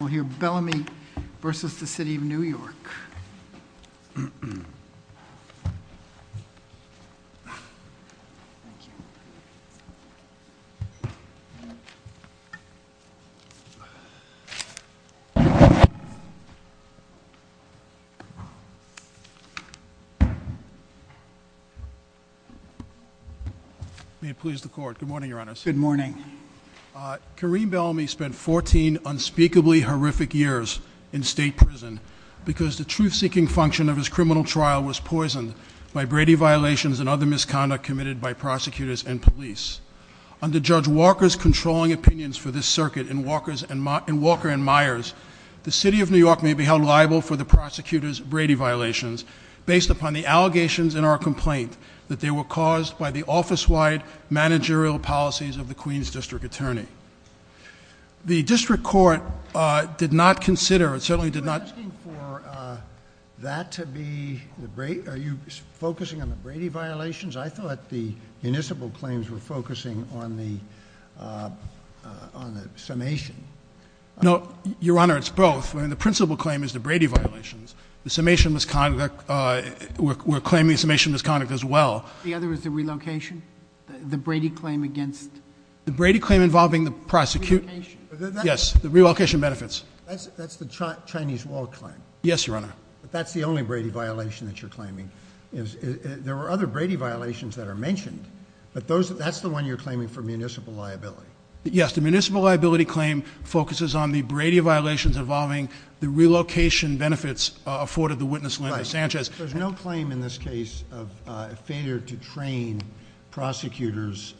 We'll hear Bellamy v. City of New York. May it please the Court. Good morning, Your Honor. Good morning. Kareem Bellamy spent 14 unspeakably horrific years in state prison because the truth-seeking function of his criminal trial was poisoned by Brady violations and other misconduct committed by prosecutors and police. Under Judge Walker's controlling opinions for this circuit in Walker and Myers, the City of New York may be held liable for the prosecutor's Brady violations based upon the allegations in our complaint that they were caused by the office-wide managerial policies of the Queens District Attorney. The District Court did not consider, certainly did not Are you asking for that to be, are you focusing on the Brady violations? I thought the municipal claims were focusing on the summation. No, Your Honor, it's both. The principal claim is the Brady violations. The summation of misconduct, we're claiming summation of misconduct as well. The other is the relocation, the Brady claim against The Brady claim involving the prosecutor Relocation Yes, the relocation benefits. That's the Chinese wall claim. Yes, Your Honor. But that's the only Brady violation that you're claiming. There were other Brady violations that are mentioned, but that's the one you're claiming for municipal liability. Yes, the municipal liability claim focuses on the Brady violations involving the relocation benefits afforded the witness Linda Sanchez. There's no claim in this case of failure to train prosecutors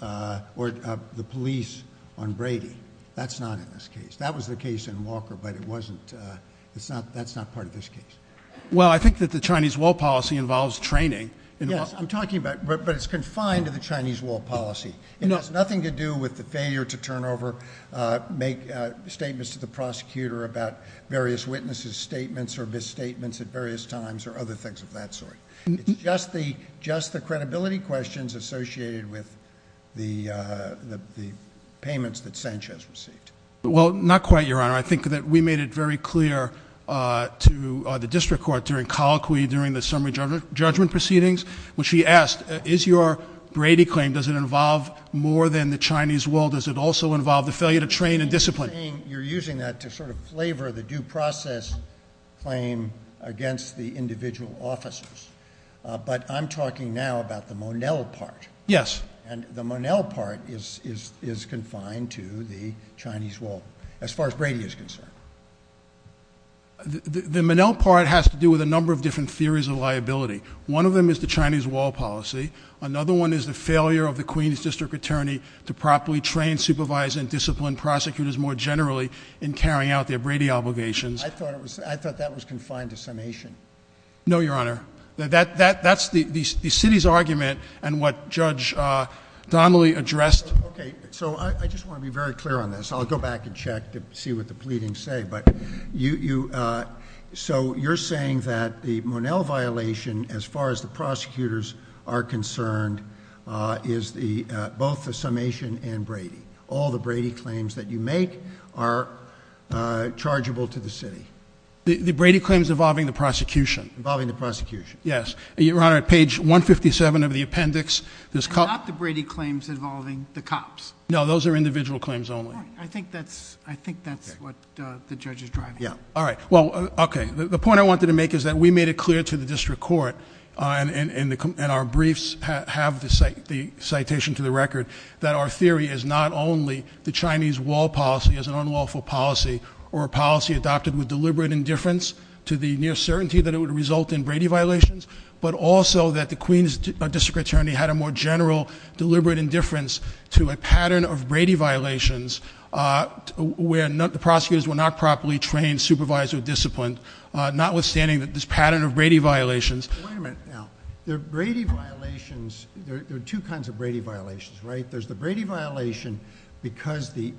or the police on Brady. That's not in this case. That was the case in Walker, but that's not part of this case. Well, I think that the Chinese wall policy involves training. Yes, I'm talking about, but it's confined to the Chinese wall policy. It has nothing to do with the failure to turn over, make statements to the prosecutor about various witnesses' statements or misstatements at various times or other things of that sort. It's just the credibility questions associated with the payments that Sanchez received. Well, not quite, Your Honor. I think that we made it very clear to the district court during colloquy, during the summary judgment proceedings, which we asked, is your Brady claim, does it involve more than the Chinese wall? Does it also involve the failure to train and discipline? You're using that to sort of flavor the due process claim against the individual officers, but I'm talking now about the Monell part. Yes. And the Monell part is confined to the Chinese wall as far as Brady is concerned. The Monell part has to do with a number of different theories of liability. One of them is the Chinese wall policy. Another one is the failure of the Queens district attorney to properly train, supervise, and discipline prosecutors more generally in carrying out their Brady obligations. I thought that was confined to summation. No, Your Honor. That's the city's argument and what Judge Donnelly addressed. Okay. So I just want to be very clear on this. I'll go back and check to see what the pleadings say. So you're saying that the Monell violation, as far as the prosecutors are concerned, is both the summation and Brady. All the Brady claims that you make are chargeable to the city. The Brady claims involving the prosecution. Involving the prosecution. Yes. Your Honor, page 157 of the appendix. Not the Brady claims involving the cops. No, those are individual claims only. I think that's what the judge is driving at. All right. Well, okay. The point I wanted to make is that we made it clear to the district court, and our briefs have the citation to the record, that our theory is not only the Chinese wall policy as an unlawful policy or a policy adopted with deliberate indifference to the near certainty that it would result in Brady violations, but also that the Queens district attorney had a more general deliberate indifference to a pattern of Brady violations where the prosecutors were not properly trained, supervised, or disciplined, notwithstanding this pattern of Brady violations. Wait a minute now. The Brady violations, there are two kinds of Brady violations, right? There's the Brady violation because the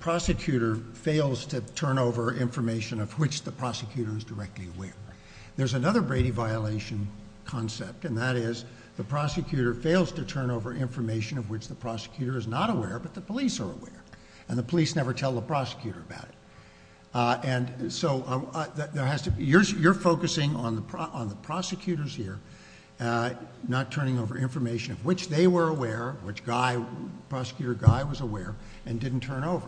prosecutor fails to turn over information of which the prosecutor is directly aware. There's another Brady violation concept, and that is the prosecutor fails to turn over information of which the prosecutor is not aware, but the police are aware, and the police never tell the prosecutor about it. So you're focusing on the prosecutors here, not turning over information of which they were aware, which prosecutor Guy was aware, and didn't turn over.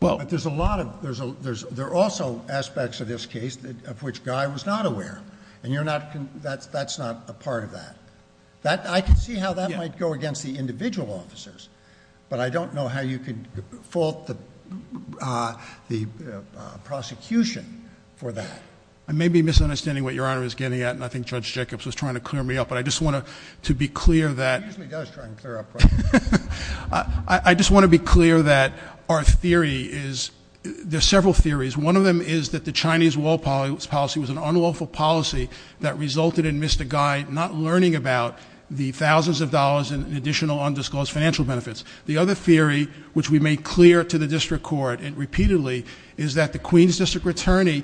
There are also aspects of this case of which Guy was not aware, and that's not a part of that. I can see how that might go against the individual officers, but I don't know how you could fault the prosecution for that. I may be misunderstanding what Your Honor is getting at, and I think Judge Jacobs was trying to clear me up, but I just want to be clear that- He usually does try and clear up problems. I just want to be clear that our theory is, there's several theories. One of them is that the Chinese wall policy was an unlawful policy that resulted in Mr. Guy not learning about the thousands of dollars and additional undisclosed financial benefits. The other theory, which we made clear to the district court repeatedly, is that the Queens District Attorney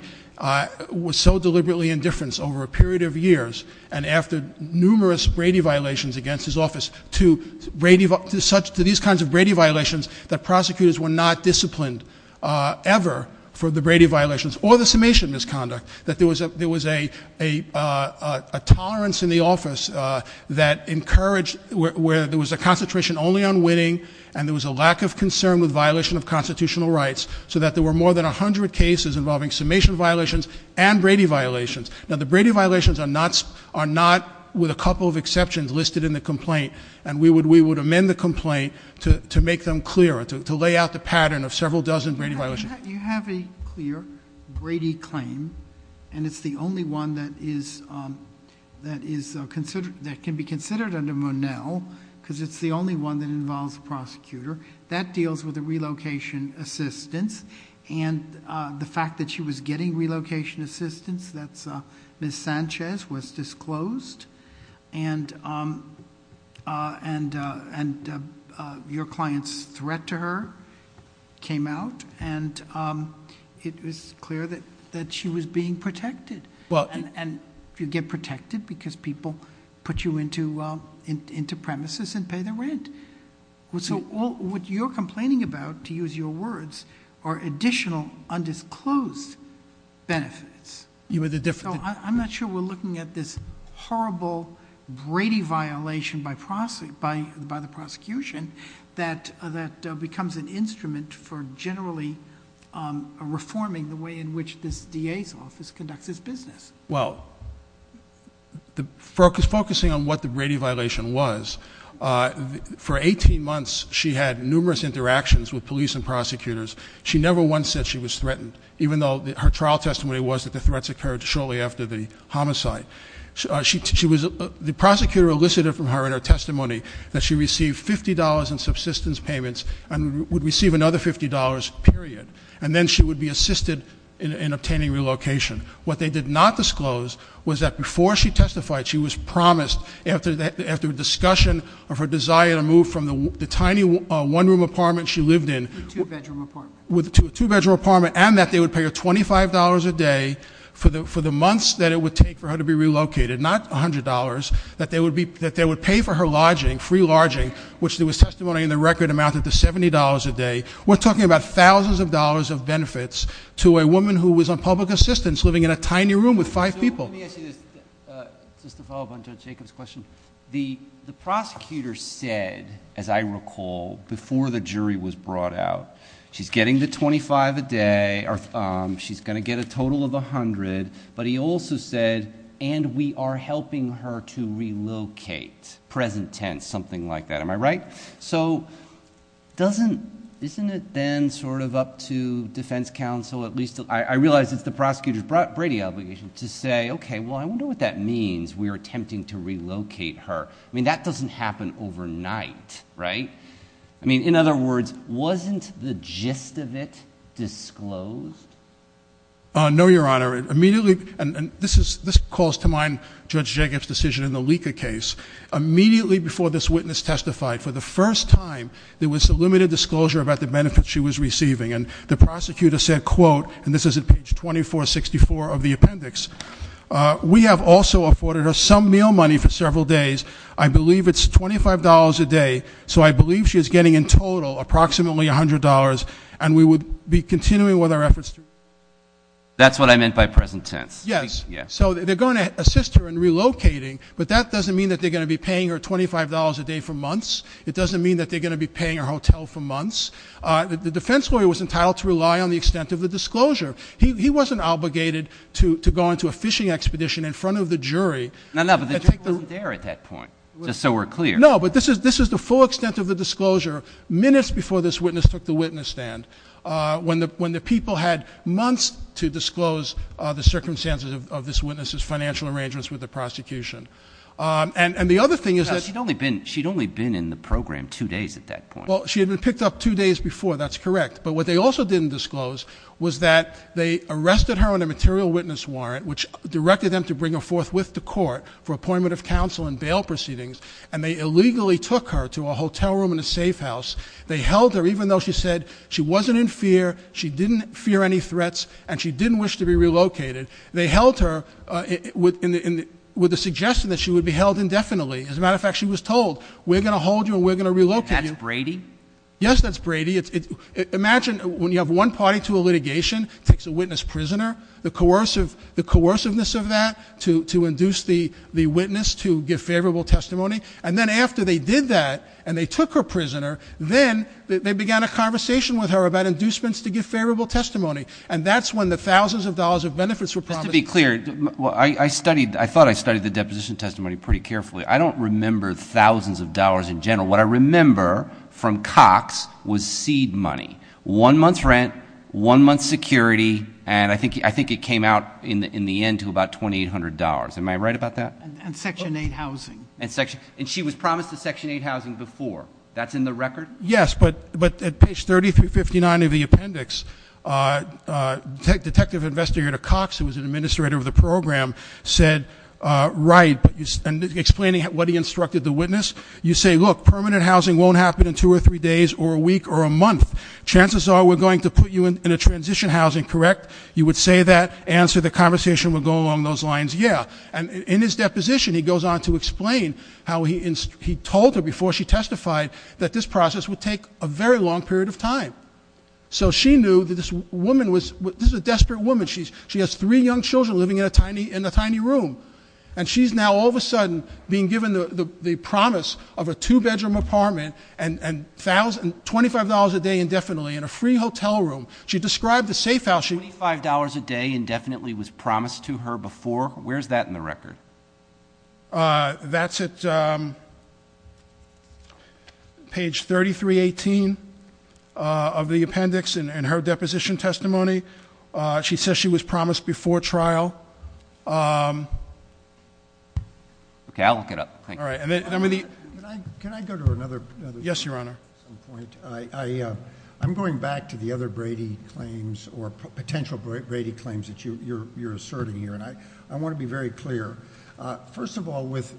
was so deliberately indifference over a period of years, and after numerous Brady violations against his office, to these kinds of Brady violations, that prosecutors were not disciplined ever for the Brady violations, or the summation misconduct, that there was a tolerance in the office that encouraged- where there was a concentration only on winning, and there was a lack of concern with violation of constitutional rights, so that there were more than 100 cases involving summation violations and Brady violations. Now, the Brady violations are not, with a couple of exceptions, listed in the complaint, and we would amend the complaint to make them clearer, to lay out the pattern of several dozen Brady violations. You have a clear Brady claim, and it's the only one that can be considered under Monell, because it's the only one that involves a prosecutor. That deals with the relocation assistance, and the fact that she was getting relocation assistance, that's Ms. Sanchez, was disclosed, and your client's threat to her came out, and it was clear that she was being protected. And you get protected because people put you into premises and pay the rent. So what you're complaining about, to use your words, are additional undisclosed benefits. So I'm not sure we're looking at this horrible Brady violation by the prosecution that becomes an instrument for generally reforming the way in which this DA's office conducts its business. Well, focusing on what the Brady violation was, for 18 months she had numerous interactions with police and prosecutors. She never once said she was threatened, even though her trial testimony was that the threats occurred shortly after the homicide. The prosecutor elicited from her in her testimony that she received $50 in subsistence payments and would receive another $50, period, and then she would be assisted in obtaining relocation. What they did not disclose was that before she testified, she was promised, after a discussion of her desire to move from the tiny one-room apartment she lived in- A two-bedroom apartment. With a two-bedroom apartment, and that they would pay her $25 a day for the months that it would take for her to be relocated, not $100, that they would pay for her lodging, free lodging, which there was testimony in the record amounted to $70 a day. We're talking about thousands of dollars of benefits to a woman who was on public assistance living in a tiny room with five people. So let me ask you this, just to follow up on Judge Jacobs' question. The prosecutor said, as I recall, before the jury was brought out, she's getting the $25 a day, she's going to get a total of $100, but he also said, and we are helping her to relocate, present tense, something like that, am I right? So isn't it then sort of up to defense counsel, at least I realize it's the prosecutor's Brady obligation, to say, okay, well, I wonder what that means, we are attempting to relocate her. I mean, that doesn't happen overnight, right? I mean, in other words, wasn't the gist of it disclosed? No, Your Honor. And this calls to mind Judge Jacobs' decision in the Lika case. Immediately before this witness testified, for the first time, there was a limited disclosure about the benefits she was receiving, and the prosecutor said, quote, and this is at page 2464 of the appendix, we have also afforded her some meal money for several days. I believe it's $25 a day, so I believe she is getting in total approximately $100, and we would be continuing with our efforts to relocate her. That's what I meant by present tense. Yes. Yes. So they're going to assist her in relocating, but that doesn't mean that they're going to be paying her $25 a day for months. It doesn't mean that they're going to be paying her hotel for months. The defense lawyer was entitled to rely on the extent of the disclosure. He wasn't obligated to go into a fishing expedition in front of the jury. No, no, but the judge wasn't there at that point, just so we're clear. No, but this is the full extent of the disclosure minutes before this witness took the witness stand. When the people had months to disclose the circumstances of this witness's financial arrangements with the prosecution. And the other thing is that. She'd only been in the program two days at that point. Well, she had been picked up two days before. That's correct. But what they also didn't disclose was that they arrested her on a material witness warrant, which directed them to bring her forth with the court for appointment of counsel and bail proceedings, and they illegally took her to a hotel room in a safe house. They held her, even though she said she wasn't in fear, she didn't fear any threats, and she didn't wish to be relocated. They held her with the suggestion that she would be held indefinitely. As a matter of fact, she was told, we're going to hold you and we're going to relocate you. And that's Brady? Yes, that's Brady. Imagine when you have one party to a litigation, it takes a witness prisoner. The coerciveness of that to induce the witness to give favorable testimony. And then after they did that and they took her prisoner, then they began a conversation with her about inducements to give favorable testimony. And that's when the thousands of dollars of benefits were promised. Just to be clear, I thought I studied the deposition testimony pretty carefully. I don't remember thousands of dollars in general. What I remember from Cox was seed money, one month's rent, one month's security, and I think it came out in the end to about $2,800. Am I right about that? And Section 8 housing. And she was promised a Section 8 housing before. That's in the record? Yes, but at page 3359 of the appendix, Detective Investigator Cox, who was an administrator of the program, said, right. And explaining what he instructed the witness, you say, look, permanent housing won't happen in two or three days or a week or a month. Chances are we're going to put you in a transition housing, correct? You would say that, answer the conversation, we'll go along those lines, yeah. And in his deposition, he goes on to explain how he told her before she testified that this process would take a very long period of time. So she knew that this woman was a desperate woman. She has three young children living in a tiny room. And she's now all of a sudden being given the promise of a two-bedroom apartment and $25 a day indefinitely in a free hotel room. She described the safe house. $25 a day indefinitely was promised to her before? Where's that in the record? That's at page 3318 of the appendix in her deposition testimony. She says she was promised before trial. Okay, I'll look it up. Can I go to another? Yes, Your Honor. I'm going back to the other Brady claims or potential Brady claims that you're asserting here. And I want to be very clear. First of all, with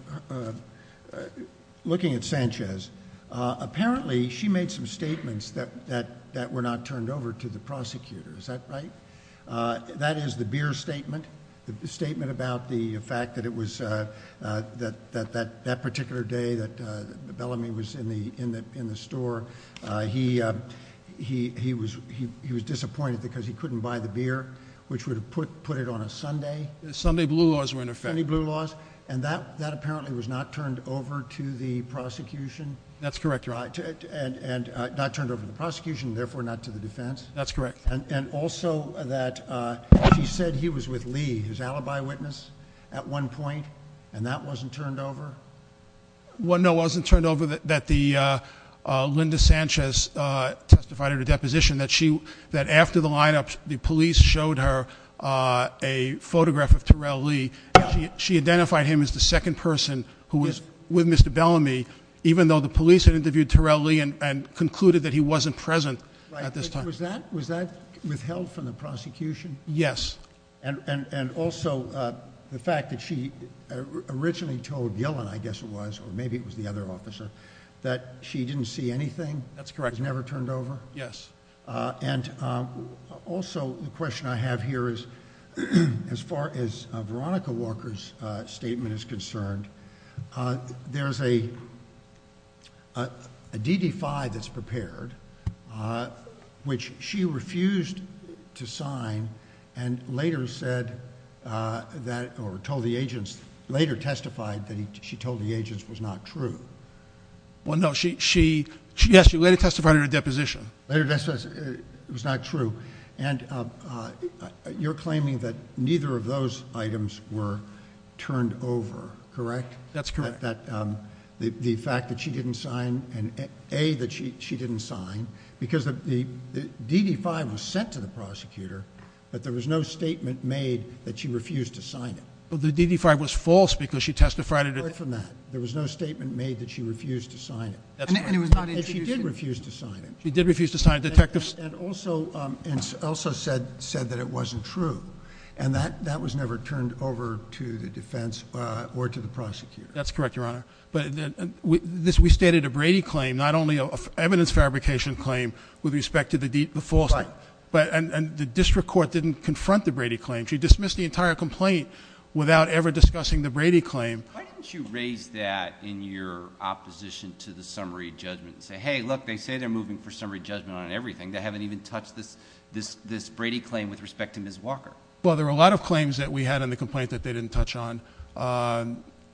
looking at Sanchez, apparently she made some statements that were not turned over to the prosecutor. Is that right? That is the Beer statement, the statement about the fact that it was that particular day that Bellamy was in the store. He was disappointed because he couldn't buy the beer, which would have put it on a Sunday. Sunday blue laws were in effect. Sunday blue laws. And that apparently was not turned over to the prosecution? That's correct, Your Honor. And not turned over to the prosecution, therefore not to the defense? That's correct. And also that she said he was with Lee, his alibi witness, at one point, and that wasn't turned over? No, it wasn't turned over. Linda Sanchez testified at a deposition that after the lineup, the police showed her a photograph of Terrell Lee. She identified him as the second person who was with Mr. Bellamy, even though the police had interviewed Terrell Lee and concluded that he wasn't present at this time. Was that withheld from the prosecution? Yes. And also the fact that she originally told Gillen, I guess it was, or maybe it was the other officer, that she didn't see anything? That's correct. It was never turned over? Yes. And also the question I have here is, as far as Veronica Walker's statement is concerned, there's a DD-5 that's prepared, which she refused to sign and later said that, or told the agents, later testified that she told the agents was not true. Well, no, she later testified at a deposition. Later testified it was not true. And you're claiming that neither of those items were turned over, correct? That's correct. The fact that she didn't sign, and A, that she didn't sign, because the DD-5 was sent to the prosecutor, but there was no statement made that she refused to sign it. Well, the DD-5 was false because she testified at it. Apart from that, there was no statement made that she refused to sign it. And she did refuse to sign it. She did refuse to sign it. And also said that it wasn't true. And that was never turned over to the defense or to the prosecutor. That's correct, Your Honor. But we stated a Brady claim, not only an evidence fabrication claim with respect to the falsehood. Right. And the district court didn't confront the Brady claim. She dismissed the entire complaint without ever discussing the Brady claim. Why didn't you raise that in your opposition to the summary judgment and say, hey, look, they say they're moving for summary judgment on everything. They haven't even touched this Brady claim with respect to Ms. Walker. Well, there were a lot of claims that we had in the complaint that they didn't touch on.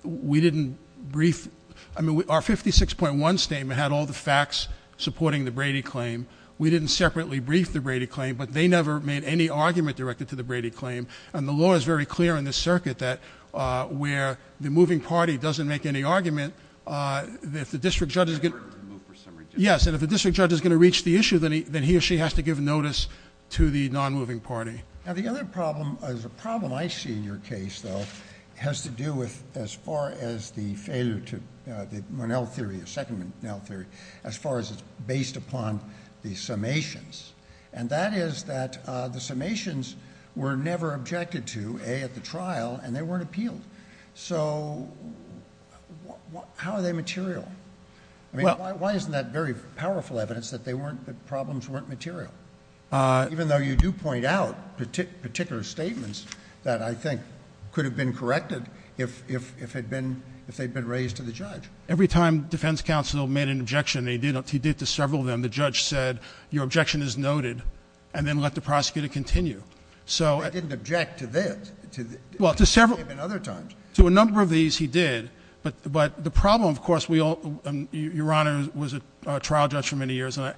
We didn't brief. I mean, our 56.1 statement had all the facts supporting the Brady claim. We didn't separately brief the Brady claim, but they never made any argument directed to the Brady claim. And the law is very clear in this circuit that where the moving party doesn't make any argument, if the district judge is going to reach the issue, then he or she has to give notice to the non-moving party. Now, the other problem is a problem I see in your case, though, has to do with as far as the failure to the Monell theory, the second Monell theory, as far as it's based upon the summations. And that is that the summations were never objected to, A, at the trial, and they weren't appealed. So how are they material? I mean, why isn't that very powerful evidence that the problems weren't material, even though you do point out particular statements that I think could have been corrected if they had been raised to the judge? Every time defense counsel made an objection, and he did to several of them, the judge said, your objection is noted, and then let the prosecutor continue. They didn't object to this. Well, to several. Even other times. To a number of these he did. But the problem, of course, we all – your Honor was a trial judge for many years. And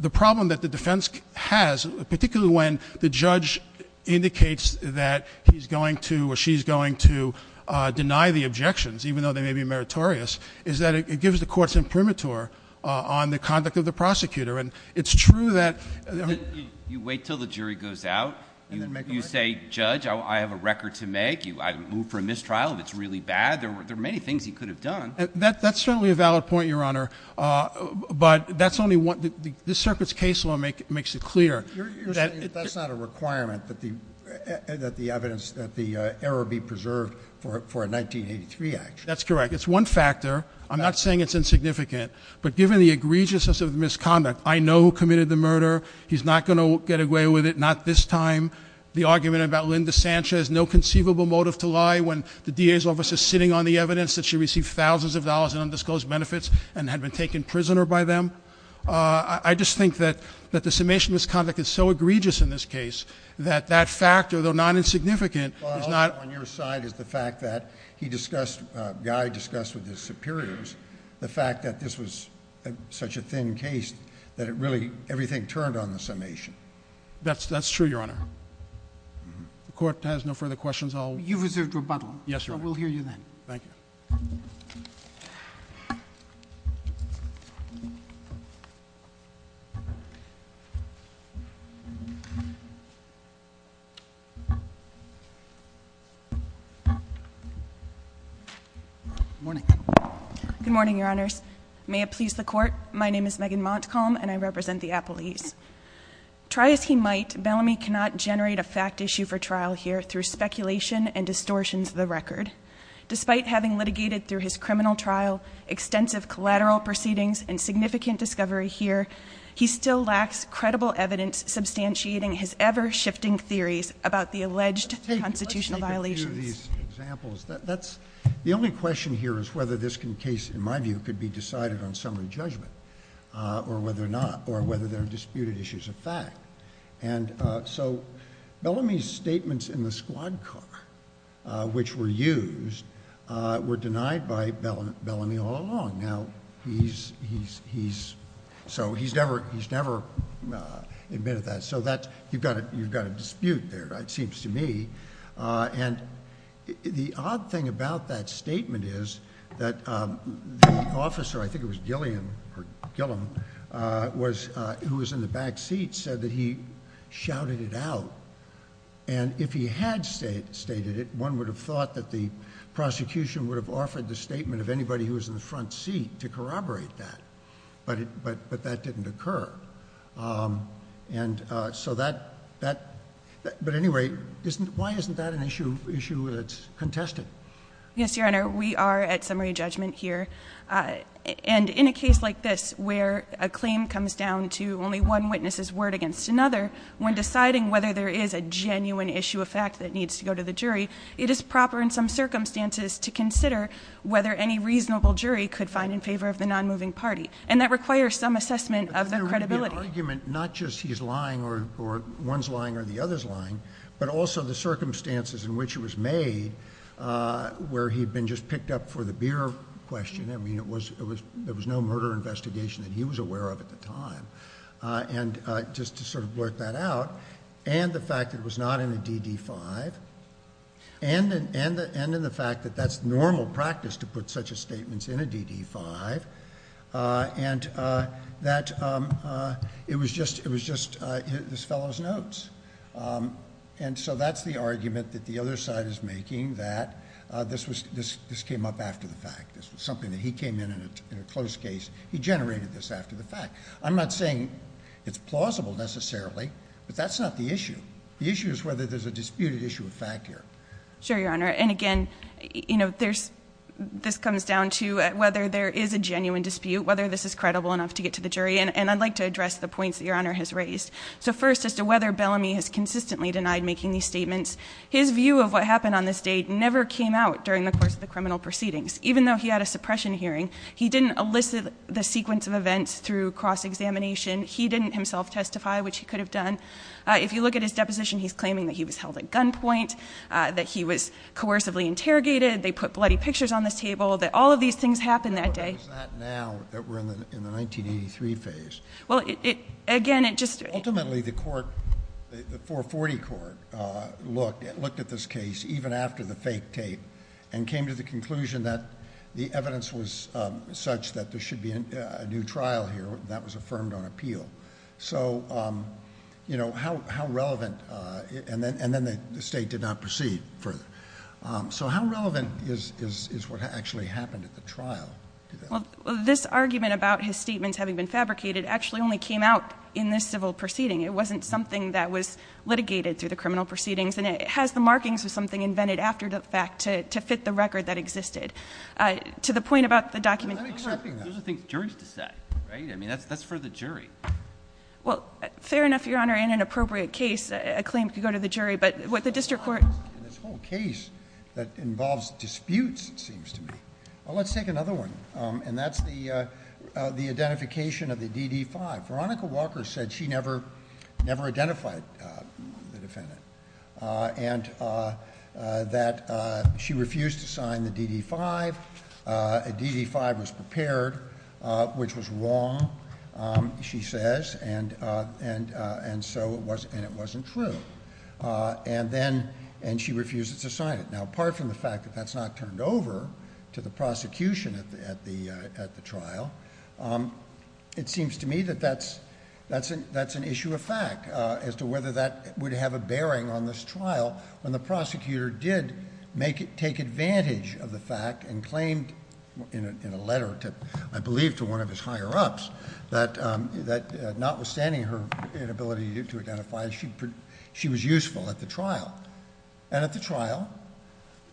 the problem that the defense has, particularly when the judge indicates that he's going to or she's going to deny the objections, even though they may be meritorious, is that it gives the courts imprimatur on the conduct of the prosecutor. And it's true that – You wait until the jury goes out. You say, Judge, I have a record to make. I moved for a mistrial. It's really bad. There are many things he could have done. That's certainly a valid point, Your Honor. But that's only one – this circuit's case law makes it clear. You're saying that that's not a requirement that the evidence, that the error be preserved for a 1983 action. That's correct. It's one factor. I'm not saying it's insignificant. But given the egregiousness of the misconduct, I know who committed the murder. He's not going to get away with it, not this time. The argument about Linda Sanchez, no conceivable motive to lie, when the DA's office is sitting on the evidence that she received thousands of dollars in undisclosed benefits and had been taken prisoner by them. I just think that the summation of this conduct is so egregious in this case that that factor, though not insignificant, is not – On your side is the fact that he discussed – Guy discussed with his superiors the fact that this was such a thin case that it really – everything turned on the summation. That's true, Your Honor. The Court has no further questions. You've reserved rebuttal. Yes, Your Honor. We'll hear you then. Thank you. Good morning. Good morning, Your Honors. May it please the Court, my name is Megan Montcalm, and I represent the appellees. Try as he might, Bellamy cannot generate a fact issue for trial here through speculation and distortions of the record. Despite having litigated through his criminal trial, extensive collateral proceedings, and significant discovery here, he still lacks credible evidence substantiating his ever-shifting theories about the alleged constitutional violations. Let's take a few of these examples. That's – the only question here is whether this case, in my view, could be decided on summary judgment or whether not, or whether there are disputed issues of fact. And so Bellamy's statements in the squad car, which were used, were denied by Bellamy all along. Now, he's – so he's never admitted that. So that's – you've got a dispute there, it seems to me. And the odd thing about that statement is that the officer – I think it was Gilliam, who was in the back seat – said that he shouted it out. And if he had stated it, one would have thought that the prosecution would have offered the statement of anybody who was in the front seat to corroborate that. But that didn't occur. And so that – but anyway, why isn't that an issue that's contested? Yes, Your Honor, we are at summary judgment here. And in a case like this, where a claim comes down to only one witness's word against another, when deciding whether there is a genuine issue of fact that needs to go to the jury, it is proper in some circumstances to consider whether any reasonable jury could find in favor of the nonmoving party. And that requires some assessment of their credibility. But then there would be an argument not just he's lying or one's lying or the other's lying, but also the circumstances in which it was made, where he'd been just picked up for the beer question. I mean, there was no murder investigation that he was aware of at the time. And just to sort of work that out, and the fact that it was not in a DD-5, and in the fact that that's normal practice to put such a statement in a DD-5, and so that's the argument that the other side is making, that this came up after the fact. This was something that he came in in a closed case. He generated this after the fact. I'm not saying it's plausible necessarily, but that's not the issue. The issue is whether there's a disputed issue of fact here. Sure, Your Honor. And again, this comes down to whether there is a genuine dispute, whether this is credible enough to get to the jury. And I'd like to address the points that Your Honor has raised. So first, as to whether Bellamy has consistently denied making these statements, his view of what happened on this date never came out during the course of the criminal proceedings. Even though he had a suppression hearing, he didn't elicit the sequence of events through cross-examination. He didn't himself testify, which he could have done. If you look at his deposition, he's claiming that he was held at gunpoint, that he was coercively interrogated, they put bloody pictures on the table, that all of these things happened that day. How is that now that we're in the 1983 phase? Ultimately, the 440 Court looked at this case, even after the fake tape, and came to the conclusion that the evidence was such that there should be a new trial here, and that was affirmed on appeal. And then the State did not proceed further. So how relevant is what actually happened at the trial? Well, this argument about his statements having been fabricated actually only came out in this civil proceeding. It wasn't something that was litigated through the criminal proceedings, and it has the markings of something invented after the fact to fit the record that existed. To the point about the document. Those are things juries decide, right? I mean, that's for the jury. Well, fair enough, Your Honor. In an appropriate case, a claim could go to the jury. But what the district court... In this whole case that involves disputes, it seems to me. Well, let's take another one, and that's the identification of the DD-5. Veronica Walker said she never identified the defendant, and that she refused to sign the DD-5. A DD-5 was prepared, which was wrong, she says, and it wasn't true. And she refused to sign it. Now, apart from the fact that that's not turned over to the prosecution at the trial, it seems to me that that's an issue of fact as to whether that would have a bearing on this trial when the prosecutor did take advantage of the fact and claimed in a letter, I believe, to one of his higher-ups, that notwithstanding her inability to identify, she was useful at the trial. And at the trial,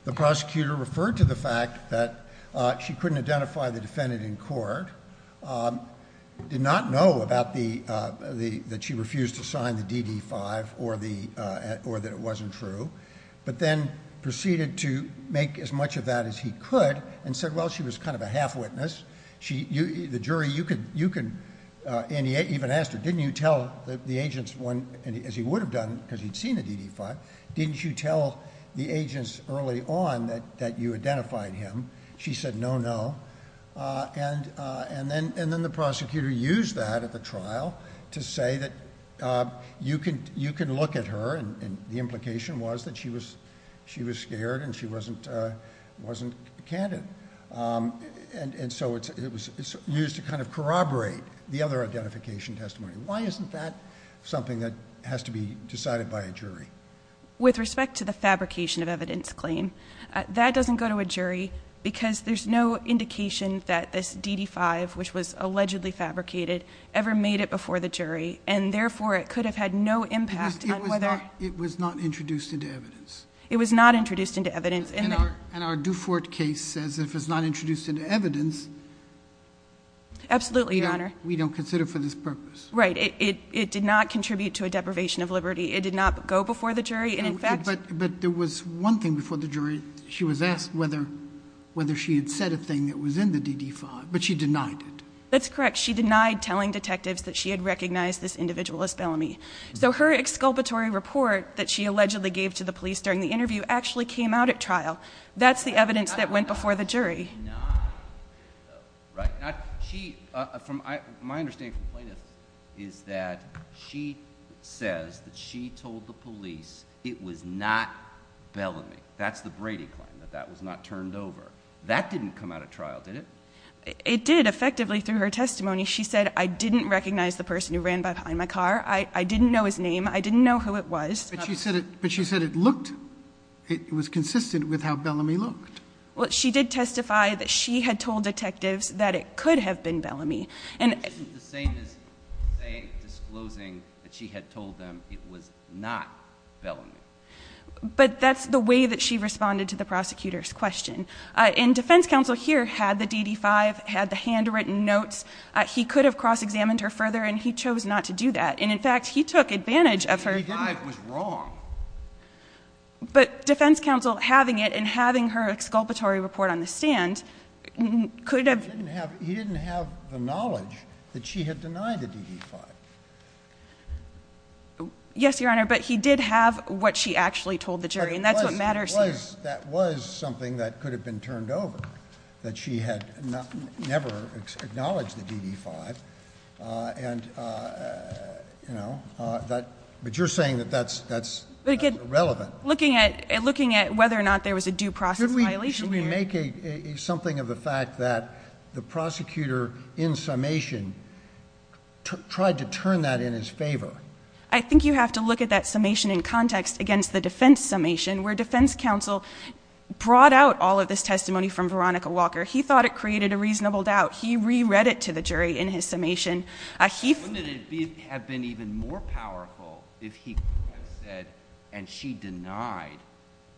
the prosecutor referred to the fact that she couldn't identify the defendant in court, did not know that she refused to sign the DD-5 or that it wasn't true, but then proceeded to make as much of that as he could and said, well, she was kind of a half-witness. The jury even asked her, didn't you tell the agents, as he would have done because he'd seen the DD-5, didn't you tell the agents early on that you identified him? She said, no, no. And then the prosecutor used that at the trial to say that you can look at her, and the implication was that she was scared and she wasn't candid. And so it was used to kind of corroborate the other identification testimony. Why isn't that something that has to be decided by a jury? With respect to the fabrication of evidence claim, that doesn't go to a jury because there's no indication that this DD-5, which was allegedly fabricated, ever made it before the jury, and therefore it could have had no impact on whether— It was not introduced into evidence. It was not introduced into evidence. And our Dufort case says that if it's not introduced into evidence— Absolutely, Your Honor. We don't consider it for this purpose. Right. It did not contribute to a deprivation of liberty. It did not go before the jury, and in fact— But there was one thing before the jury. She was asked whether she had said a thing that was in the DD-5, but she denied it. That's correct. She denied telling detectives that she had recognized this individual as Bellamy. So her exculpatory report that she allegedly gave to the police during the interview actually came out at trial. That's the evidence that went before the jury. She did not, right? My understanding from plaintiffs is that she says that she told the police it was not Bellamy. That's the Brady claim, that that was not turned over. That didn't come out at trial, did it? It did, effectively, through her testimony. She said, I didn't recognize the person who ran behind my car. I didn't know his name. I didn't know who it was. But she said it looked—it was consistent with how Bellamy looked. Well, she did testify that she had told detectives that it could have been Bellamy. Isn't the same as disclosing that she had told them it was not Bellamy? But that's the way that she responded to the prosecutor's question. And defense counsel here had the DD-5, had the handwritten notes. He could have cross-examined her further, and he chose not to do that. And, in fact, he took advantage of her— The DD-5 was wrong. But defense counsel having it and having her exculpatory report on the stand could have— He didn't have the knowledge that she had denied the DD-5. Yes, Your Honor, but he did have what she actually told the jury, and that's what matters here. That was something that could have been turned over, that she had never acknowledged the DD-5. And, you know, but you're saying that that's irrelevant. Looking at whether or not there was a due process violation here— Should we make something of the fact that the prosecutor in summation tried to turn that in his favor? I think you have to look at that summation in context against the defense summation, where defense counsel brought out all of this testimony from Veronica Walker. He thought it created a reasonable doubt. He re-read it to the jury in his summation. Wouldn't it have been even more powerful if he had said, and she denied,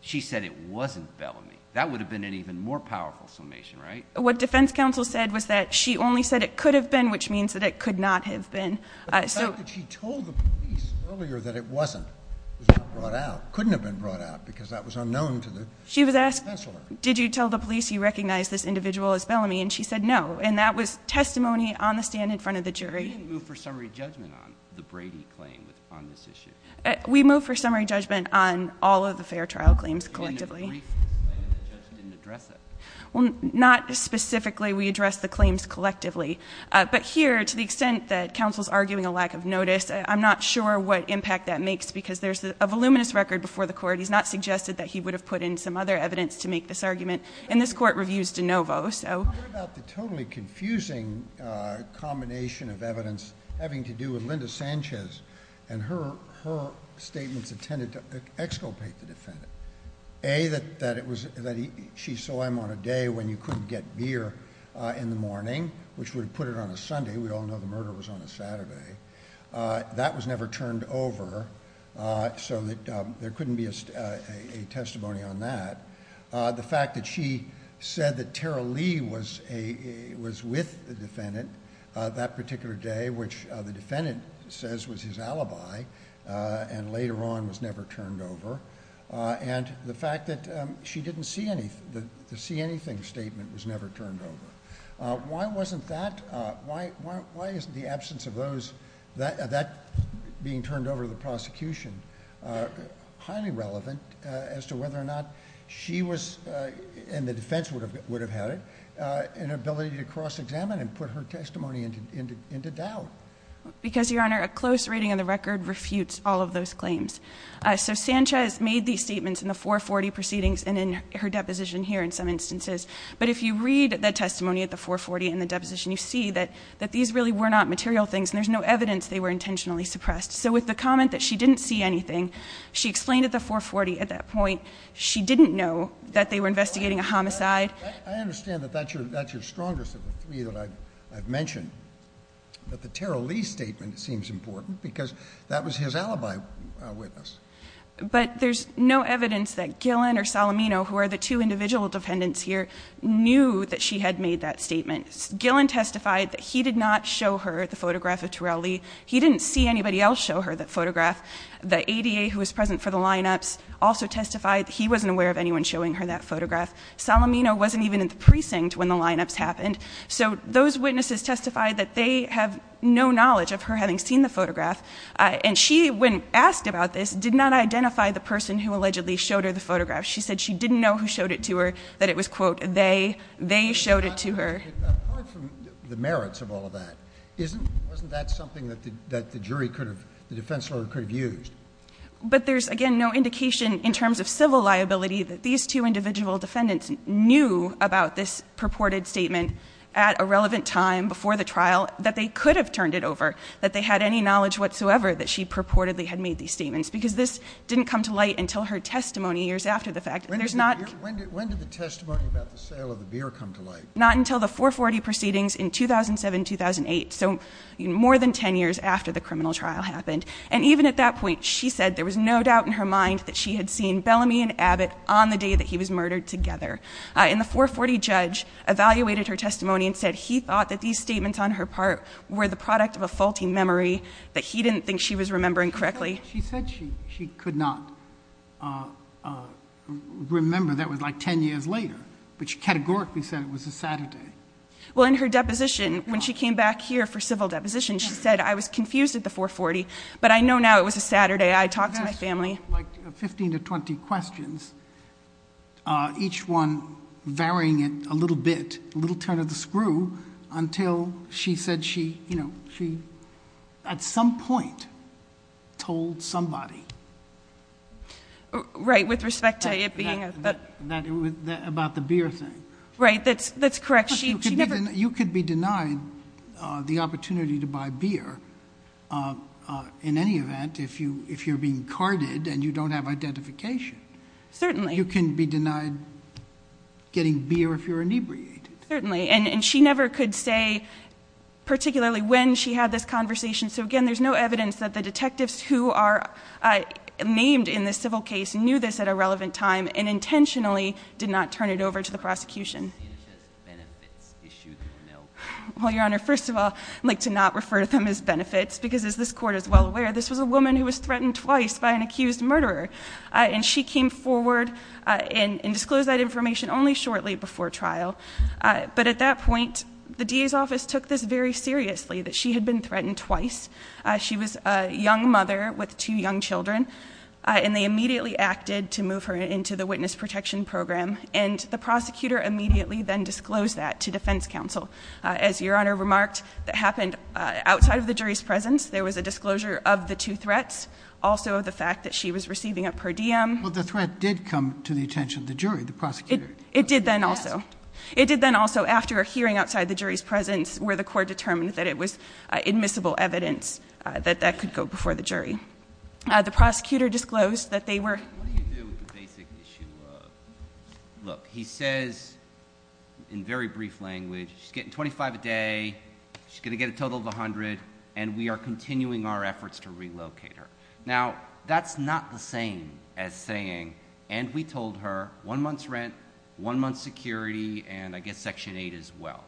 she said it wasn't Bellamy? That would have been an even more powerful summation, right? What defense counsel said was that she only said it could have been, which means that it could not have been. The fact that she told the police earlier that it wasn't was not brought out, couldn't have been brought out because that was unknown to the counselor. Did you tell the police you recognized this individual as Bellamy? And she said no, and that was testimony on the stand in front of the jury. You didn't move for summary judgment on the Brady claim on this issue. We moved for summary judgment on all of the fair trial claims collectively. You made a brief statement that the judge didn't address it. Well, not specifically. We addressed the claims collectively. But here, to the extent that counsel's arguing a lack of notice, I'm not sure what impact that makes because there's a voluminous record before the court. He's not suggested that he would have put in some other evidence to make this argument. And this court reviews de novo. What about the totally confusing combination of evidence having to do with Linda Sanchez and her statements intended to exculpate the defendant? A, that she saw him on a day when you couldn't get beer in the morning, which would have put it on a Sunday. We all know the murder was on a Saturday. That was never turned over, so there couldn't be a testimony on that. The fact that she said that Tara Lee was with the defendant that particular day, which the defendant says was his alibi, and later on was never turned over. And the fact that the see anything statement was never turned over. Why wasn't that, why isn't the absence of that being turned over to the prosecution highly relevant as to whether or not she was, and the defense would have had it, an ability to cross-examine and put her testimony into doubt? Because, Your Honor, a close reading of the record refutes all of those claims. So Sanchez made these statements in the 440 proceedings and in her deposition here in some instances. But if you read the testimony at the 440 in the deposition, you see that these really were not material things and there's no evidence they were intentionally suppressed. So with the comment that she didn't see anything, she explained at the 440 at that point she didn't know that they were investigating a homicide. I understand that that's your strongest of the three that I've mentioned. But the Tara Lee statement seems important because that was his alibi witness. But there's no evidence that Gillen or Salamino, who are the two individual defendants here, knew that she had made that statement. Gillen testified that he did not show her the photograph of Tara Lee. He didn't see anybody else show her that photograph. The ADA, who was present for the lineups, also testified that he wasn't aware of anyone showing her that photograph. Salamino wasn't even in the precinct when the lineups happened. So those witnesses testified that they have no knowledge of her having seen the photograph. And she, when asked about this, did not identify the person who allegedly showed her the photograph. She said she didn't know who showed it to her, that it was, quote, they. They showed it to her. Apart from the merits of all of that, wasn't that something that the defense lawyer could have used? But there's, again, no indication in terms of civil liability that these two individual defendants knew about this purported statement at a relevant time before the trial that they could have turned it over, that they had any knowledge whatsoever that she purportedly had made these statements, because this didn't come to light until her testimony years after the fact. When did the testimony about the sale of the beer come to light? Not until the 440 proceedings in 2007-2008, so more than 10 years after the criminal trial happened. And even at that point, she said there was no doubt in her mind that she had seen Bellamy and Abbott on the day that he was murdered together. And the 440 judge evaluated her testimony and said he thought that these statements on her part were the product of a faulty memory, that he didn't think she was remembering correctly. She said she could not remember. That was, like, 10 years later. But she categorically said it was a Saturday. Well, in her deposition, when she came back here for civil deposition, she said, I was confused at the 440, but I know now it was a Saturday. I talked to my family. Like 15 to 20 questions, each one varying it a little bit, a little turn of the screw, until she said she, you know, she at some point told somebody. Right, with respect to it being a... About the beer thing. Right, that's correct. You could be denied the opportunity to buy beer in any event if you're being carded and you don't have identification. Certainly. You can be denied getting beer if you're inebriated. Certainly. And she never could say particularly when she had this conversation. So, again, there's no evidence that the detectives who are named in this civil case knew this at a relevant time and intentionally did not turn it over to the prosecution. Well, Your Honor, first of all, I'd like to not refer to them as benefits, because as this Court is well aware, this was a woman who was threatened twice by an accused murderer. And she came forward and disclosed that information only shortly before trial. But at that point, the DA's office took this very seriously, that she had been threatened twice. She was a young mother with two young children. And they immediately acted to move her into the Witness Protection Program. And the prosecutor immediately then disclosed that to defense counsel. As Your Honor remarked, that happened outside of the jury's presence. There was a disclosure of the two threats. Also the fact that she was receiving a per diem. Well, the threat did come to the attention of the jury, the prosecutor. It did then also. It did then also after a hearing outside the jury's presence The prosecutor disclosed that they were... What do you do with the basic issue of... Look, he says in very brief language, she's getting $25 a day, she's going to get a total of $100, and we are continuing our efforts to relocate her. Now, that's not the same as saying, and we told her, one month's rent, one month's security, and I guess Section 8 as well.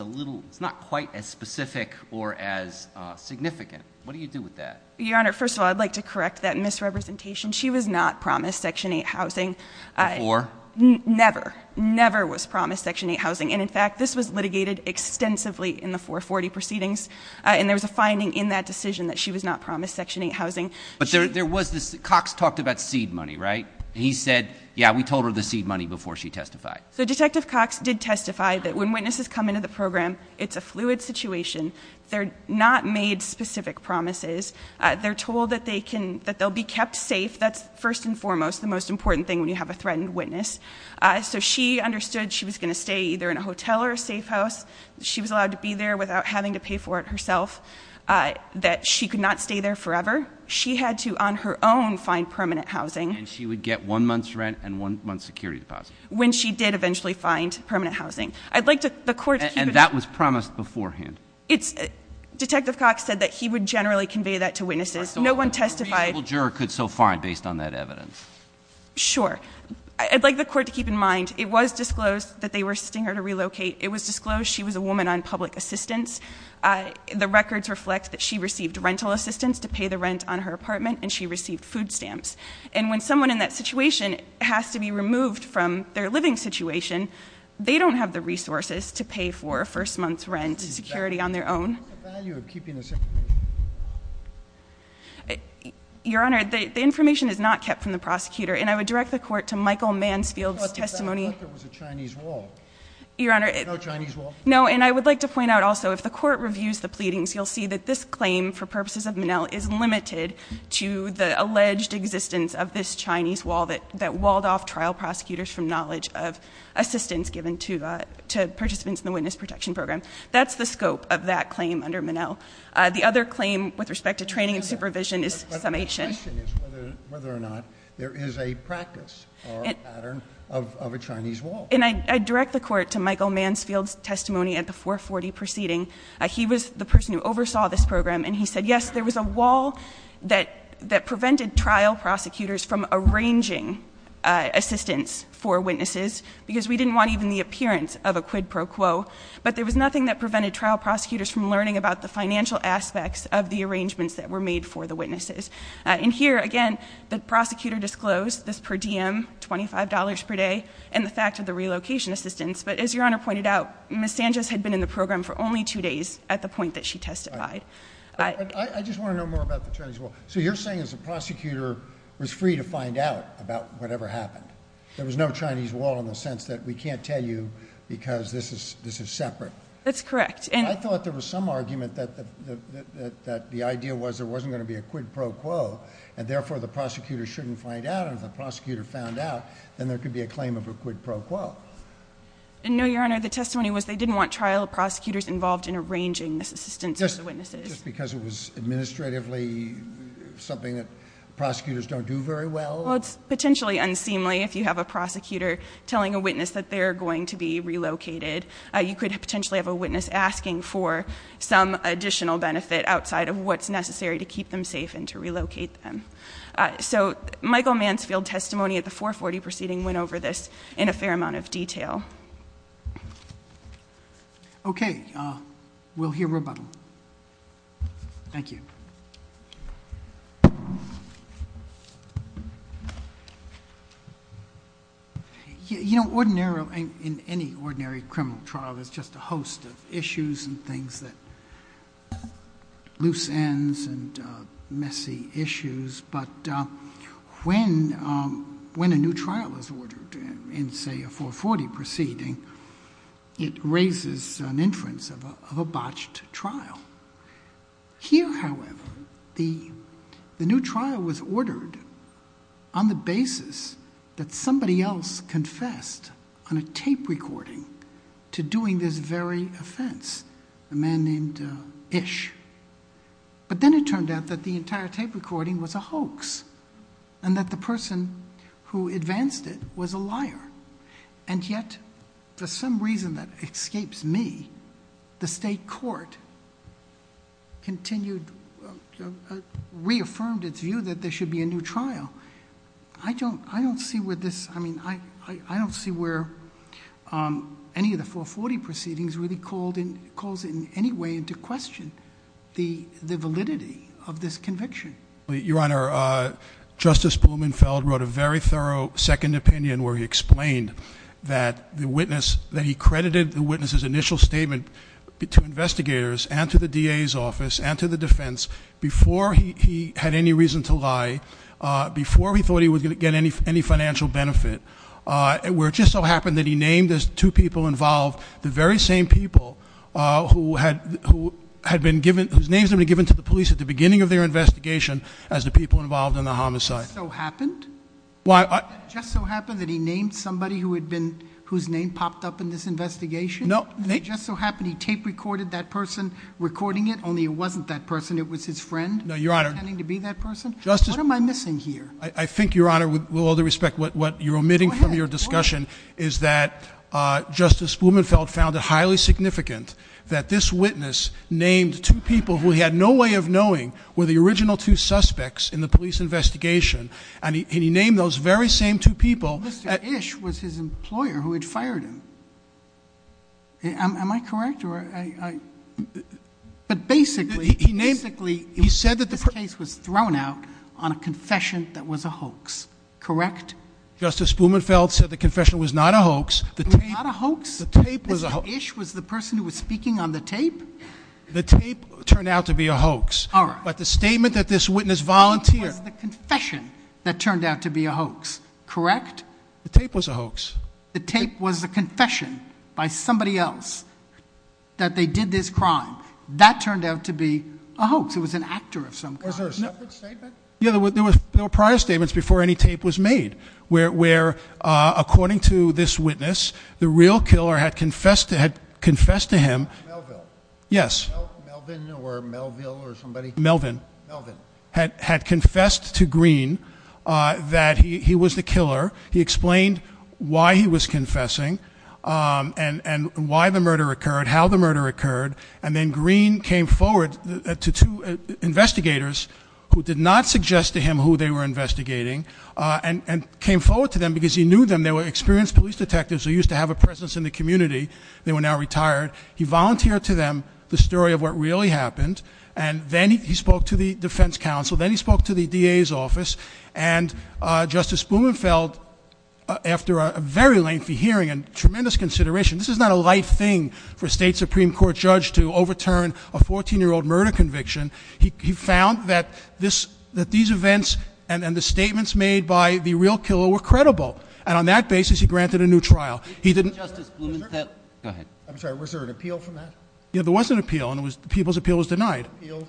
It's not quite as specific or as significant. What do you do with that? Your Honor, first of all, I'd like to correct that misrepresentation. She was not promised Section 8 housing. Before? Never. Never was promised Section 8 housing. And, in fact, this was litigated extensively in the 440 proceedings, and there was a finding in that decision that she was not promised Section 8 housing. But there was this... Cox talked about seed money, right? He said, yeah, we told her the seed money before she testified. So Detective Cox did testify that when witnesses come into the program, it's a fluid situation. They're not made specific promises. They're told that they'll be kept safe. That's first and foremost the most important thing when you have a threatened witness. So she understood she was going to stay either in a hotel or a safe house. She was allowed to be there without having to pay for it herself, that she could not stay there forever. She had to, on her own, find permanent housing. And she would get one month's rent and one month's security deposit. When she did eventually find permanent housing. I'd like the Court to keep it... That was promised beforehand. Detective Cox said that he would generally convey that to witnesses. No one testified... A reasonable juror could so find based on that evidence. Sure. I'd like the Court to keep in mind it was disclosed that they were assisting her to relocate. It was disclosed she was a woman on public assistance. The records reflect that she received rental assistance to pay the rent on her apartment, and she received food stamps. And when someone in that situation has to be removed from their living situation, they don't have the resources to pay for a first month's rent security on their own. What's the value of keeping this information? Your Honor, the information is not kept from the prosecutor. And I would direct the Court to Michael Mansfield's testimony... I thought that was a Chinese wall. Your Honor... No Chinese wall? No, and I would like to point out also, if the Court reviews the pleadings, you'll see that this claim, for purposes of Minnell, is limited to the alleged existence of this Chinese wall that walled off trial prosecutors from knowledge of assistance given to participants in the witness protection program. That's the scope of that claim under Minnell. The other claim with respect to training and supervision is summation. But the question is whether or not there is a practice or a pattern of a Chinese wall. And I direct the Court to Michael Mansfield's testimony at the 440 proceeding. He was the person who oversaw this program, and he said, yes, there was a wall that prevented trial prosecutors from arranging assistance for witnesses, because we didn't want even the appearance of a quid pro quo. But there was nothing that prevented trial prosecutors from learning about the financial aspects of the arrangements that were made for the witnesses. And here, again, the prosecutor disclosed this per diem, $25 per day, and the fact of the relocation assistance. But as Your Honor pointed out, Ms. Sanchez had been in the program for only two days at the point that she testified. But I just want to know more about the Chinese wall. So you're saying that the prosecutor was free to find out about whatever happened. There was no Chinese wall in the sense that we can't tell you because this is separate. That's correct. And I thought there was some argument that the idea was there wasn't going to be a quid pro quo, and therefore the prosecutor shouldn't find out, and if the prosecutor found out, then there could be a claim of a quid pro quo. No, Your Honor. The testimony was they didn't want trial prosecutors involved in arranging this assistance for the witnesses. Just because it was administratively something that prosecutors don't do very well? Well, it's potentially unseemly if you have a prosecutor telling a witness that they're going to be relocated. You could potentially have a witness asking for some additional benefit outside of what's necessary to keep them safe and to relocate them. So Michael Mansfield testimony at the 440 proceeding went over this in a fair amount of detail. Okay. We'll hear rebuttal. Thank you. You know, in any ordinary criminal trial, there's just a host of issues and things that loose ends and messy issues, but when a new trial is ordered in, say, a 440 proceeding, it raises an inference of a botched trial. Here, however, the new trial was ordered on the basis that somebody else confessed on a tape recording to doing this very offense, a man named Ish. But then it turned out that the entire tape recording was a hoax and that the person who advanced it was a liar. And yet, for some reason that escapes me, the state court continued, reaffirmed its view that there should be a new trial. I don't see where this, I mean, I don't see where any of the 440 proceedings really calls in any way into question the validity of this conviction. Your Honor, Justice Blumenfeld wrote a very thorough second opinion where he explained that the witness, that he credited the witness's initial statement to investigators and to the DA's office and to the defense before he had any reason to lie, before he thought he was going to get any financial benefit, where it just so happened that he named those two people involved, the very same people whose names had been given to the police at the beginning of their investigation, as the people involved in the homicide. It just so happened? Why? It just so happened that he named somebody whose name popped up in this investigation? No. It just so happened he tape recorded that person recording it, only it wasn't that person, it was his friend? No, Your Honor. The DA's office named two people who he had no way of knowing were the original two suspects in the police investigation, and he named those very same two people. Mr. Ish was his employer who had fired him. Am I correct? But basically, this case was thrown out on a confession that was a hoax, correct? Justice Blumenfeld said the confession was not a hoax. It was not a hoax? Mr. Ish was the person who was speaking on the tape? The tape turned out to be a hoax, but the statement that this witness volunteered... The tape was the confession that turned out to be a hoax, correct? The tape was a hoax. The tape was a confession by somebody else that they did this crime. That turned out to be a hoax. It was an actor of some kind. Was there a second statement? Yes, there were prior statements before any tape was made. Where, according to this witness, the real killer had confessed to him... Melville? Yes. Melvin or Melville or somebody? Melvin. Had confessed to Green that he was the killer. He explained why he was confessing and why the murder occurred, how the murder occurred, and then Green came forward to two investigators who did not suggest to him who they were investigating, and came forward to them because he knew them. They were experienced police detectives. They used to have a presence in the community. They were now retired. He volunteered to them the story of what really happened, and then he spoke to the defense counsel, then he spoke to the DA's office, and Justice Blumenfeld, after a very lengthy hearing and tremendous consideration... This is not a light thing for a state Supreme Court judge to overturn a 14-year-old murder conviction. He found that these events and the statements made by the real killer were credible, and on that basis he granted a new trial. I'm sorry. Was there an appeal from that? Yes, there was an appeal, and the people's appeal was denied. Was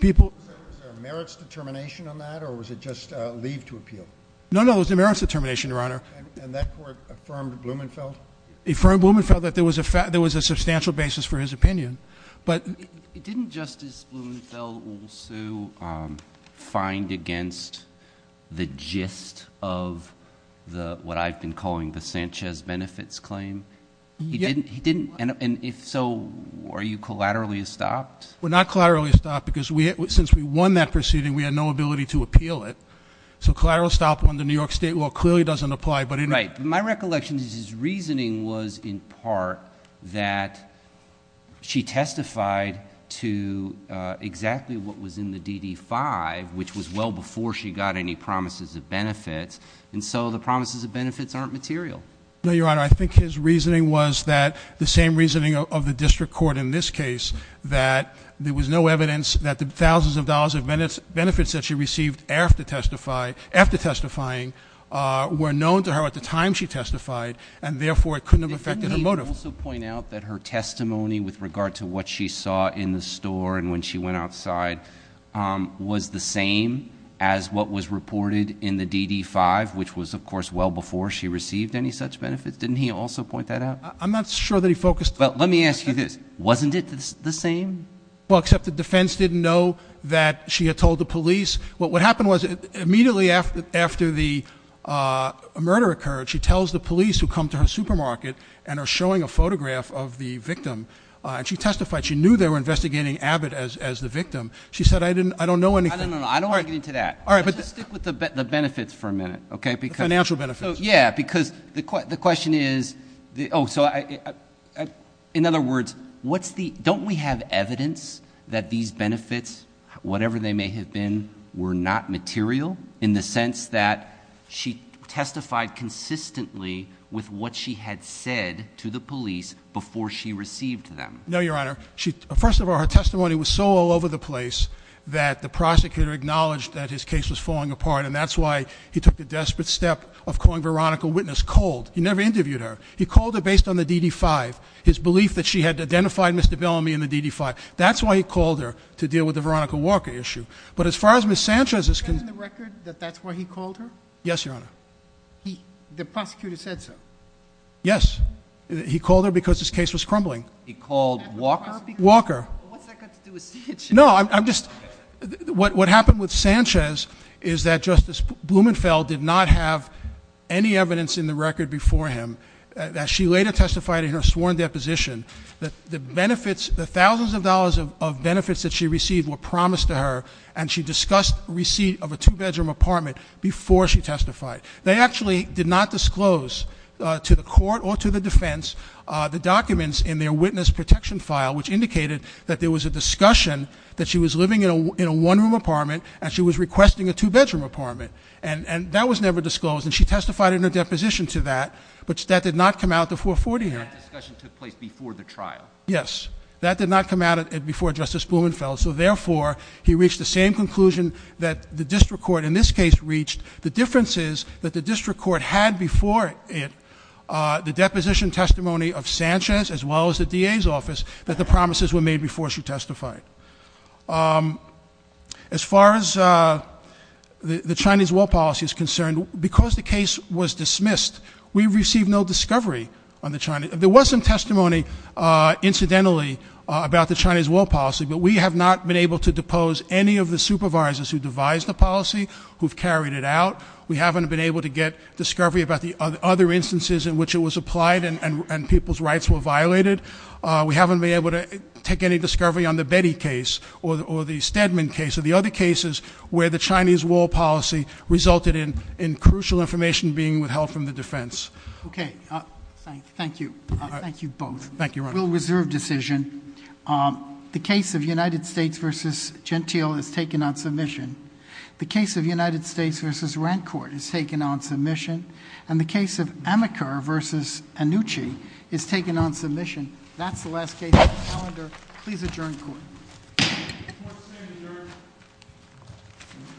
there a merits determination on that, or was it just leave to appeal? No, no, there was a merits determination, Your Honor. And that court affirmed Blumenfeld? It affirmed Blumenfeld that there was a substantial basis for his opinion. Didn't Justice Blumenfeld also find against the gist of what I've been calling the Sanchez benefits claim? He didn't, and if so, were you collaterally stopped? We're not collaterally stopped because since we won that proceeding, we had no ability to appeal it. So collateral stop under New York state law clearly doesn't apply. Right. My recollection is his reasoning was in part that she testified to exactly what was in the DD-5, which was well before she got any promises of benefits, and so the promises of benefits aren't material. No, Your Honor, I think his reasoning was that the same reasoning of the district court in this case, that there was no evidence that the thousands of dollars of benefits that she received after testifying were known to her at the time she testified, and therefore it couldn't have affected her motive. Couldn't he also point out that her testimony with regard to what she saw in the store and when she went outside was the same as what was reported in the DD-5, which was, of course, well before she received any such benefits? Didn't he also point that out? I'm not sure that he focused- Well, let me ask you this. Wasn't it the same? Well, except the defense didn't know that she had told the police. What happened was immediately after the murder occurred, she tells the police who come to her supermarket and are showing a photograph of the victim, and she testified. She knew they were investigating Abbott as the victim. She said, I don't know anything. I don't want to get into that. All right, but- Let's just stick with the benefits for a minute, okay? The financial benefits. Yeah, because the question is- In other words, don't we have evidence that these benefits, whatever they may have been, were not material in the sense that she testified consistently with what she had said to the police before she received them? No, Your Honor. First of all, her testimony was so all over the place that the prosecutor acknowledged that his case was falling apart, and that's why he took the desperate step of calling Veronica a witness cold. He never interviewed her. He called her based on the DD-5, his belief that she had identified Mr. Bellamy in the DD-5. That's why he called her, to deal with the Veronica Walker issue. But as far as Ms. Sanchez's- Is it in the record that that's why he called her? Yes, Your Honor. The prosecutor said so? Yes. He called her because his case was crumbling. He called Walker? Walker. What's that got to do with Sanchez? What happened with Sanchez is that Justice Blumenfeld did not have any evidence in the record before him that she later testified in her sworn deposition that the benefits, the thousands of dollars of benefits that she received were promised to her, and she discussed receipt of a two-bedroom apartment before she testified. They actually did not disclose to the court or to the defense the documents in their witness protection file, which indicated that there was a discussion that she was living in a one-room apartment and she was requesting a two-bedroom apartment, and that was never disclosed. And she testified in her deposition to that, but that did not come out the 440 hearing. That discussion took place before the trial? Yes. That did not come out before Justice Blumenfeld, so therefore he reached the same conclusion that the district court in this case reached. The difference is that the district court had before it the deposition testimony of Sanchez, as well as the DA's office, that the promises were made before she testified. As far as the Chinese war policy is concerned, because the case was dismissed, we received no discovery on the Chinese. There was some testimony, incidentally, about the Chinese war policy, but we have not been able to depose any of the supervisors who devised the policy, who have carried it out. We haven't been able to get discovery about the other instances in which it was applied and people's rights were violated. We haven't been able to take any discovery on the Betty case, or the Stedman case, or the other cases where the Chinese war policy resulted in crucial information being withheld from the defense. Okay. Thank you. Thank you both. Thank you, Your Honor. Rule reserve decision. The case of United States v. Gentile is taken on submission. The case of United States v. Rancourt is taken on submission. And the case of Amaker v. Anucci is taken on submission. That's the last case on the calendar. Please adjourn court.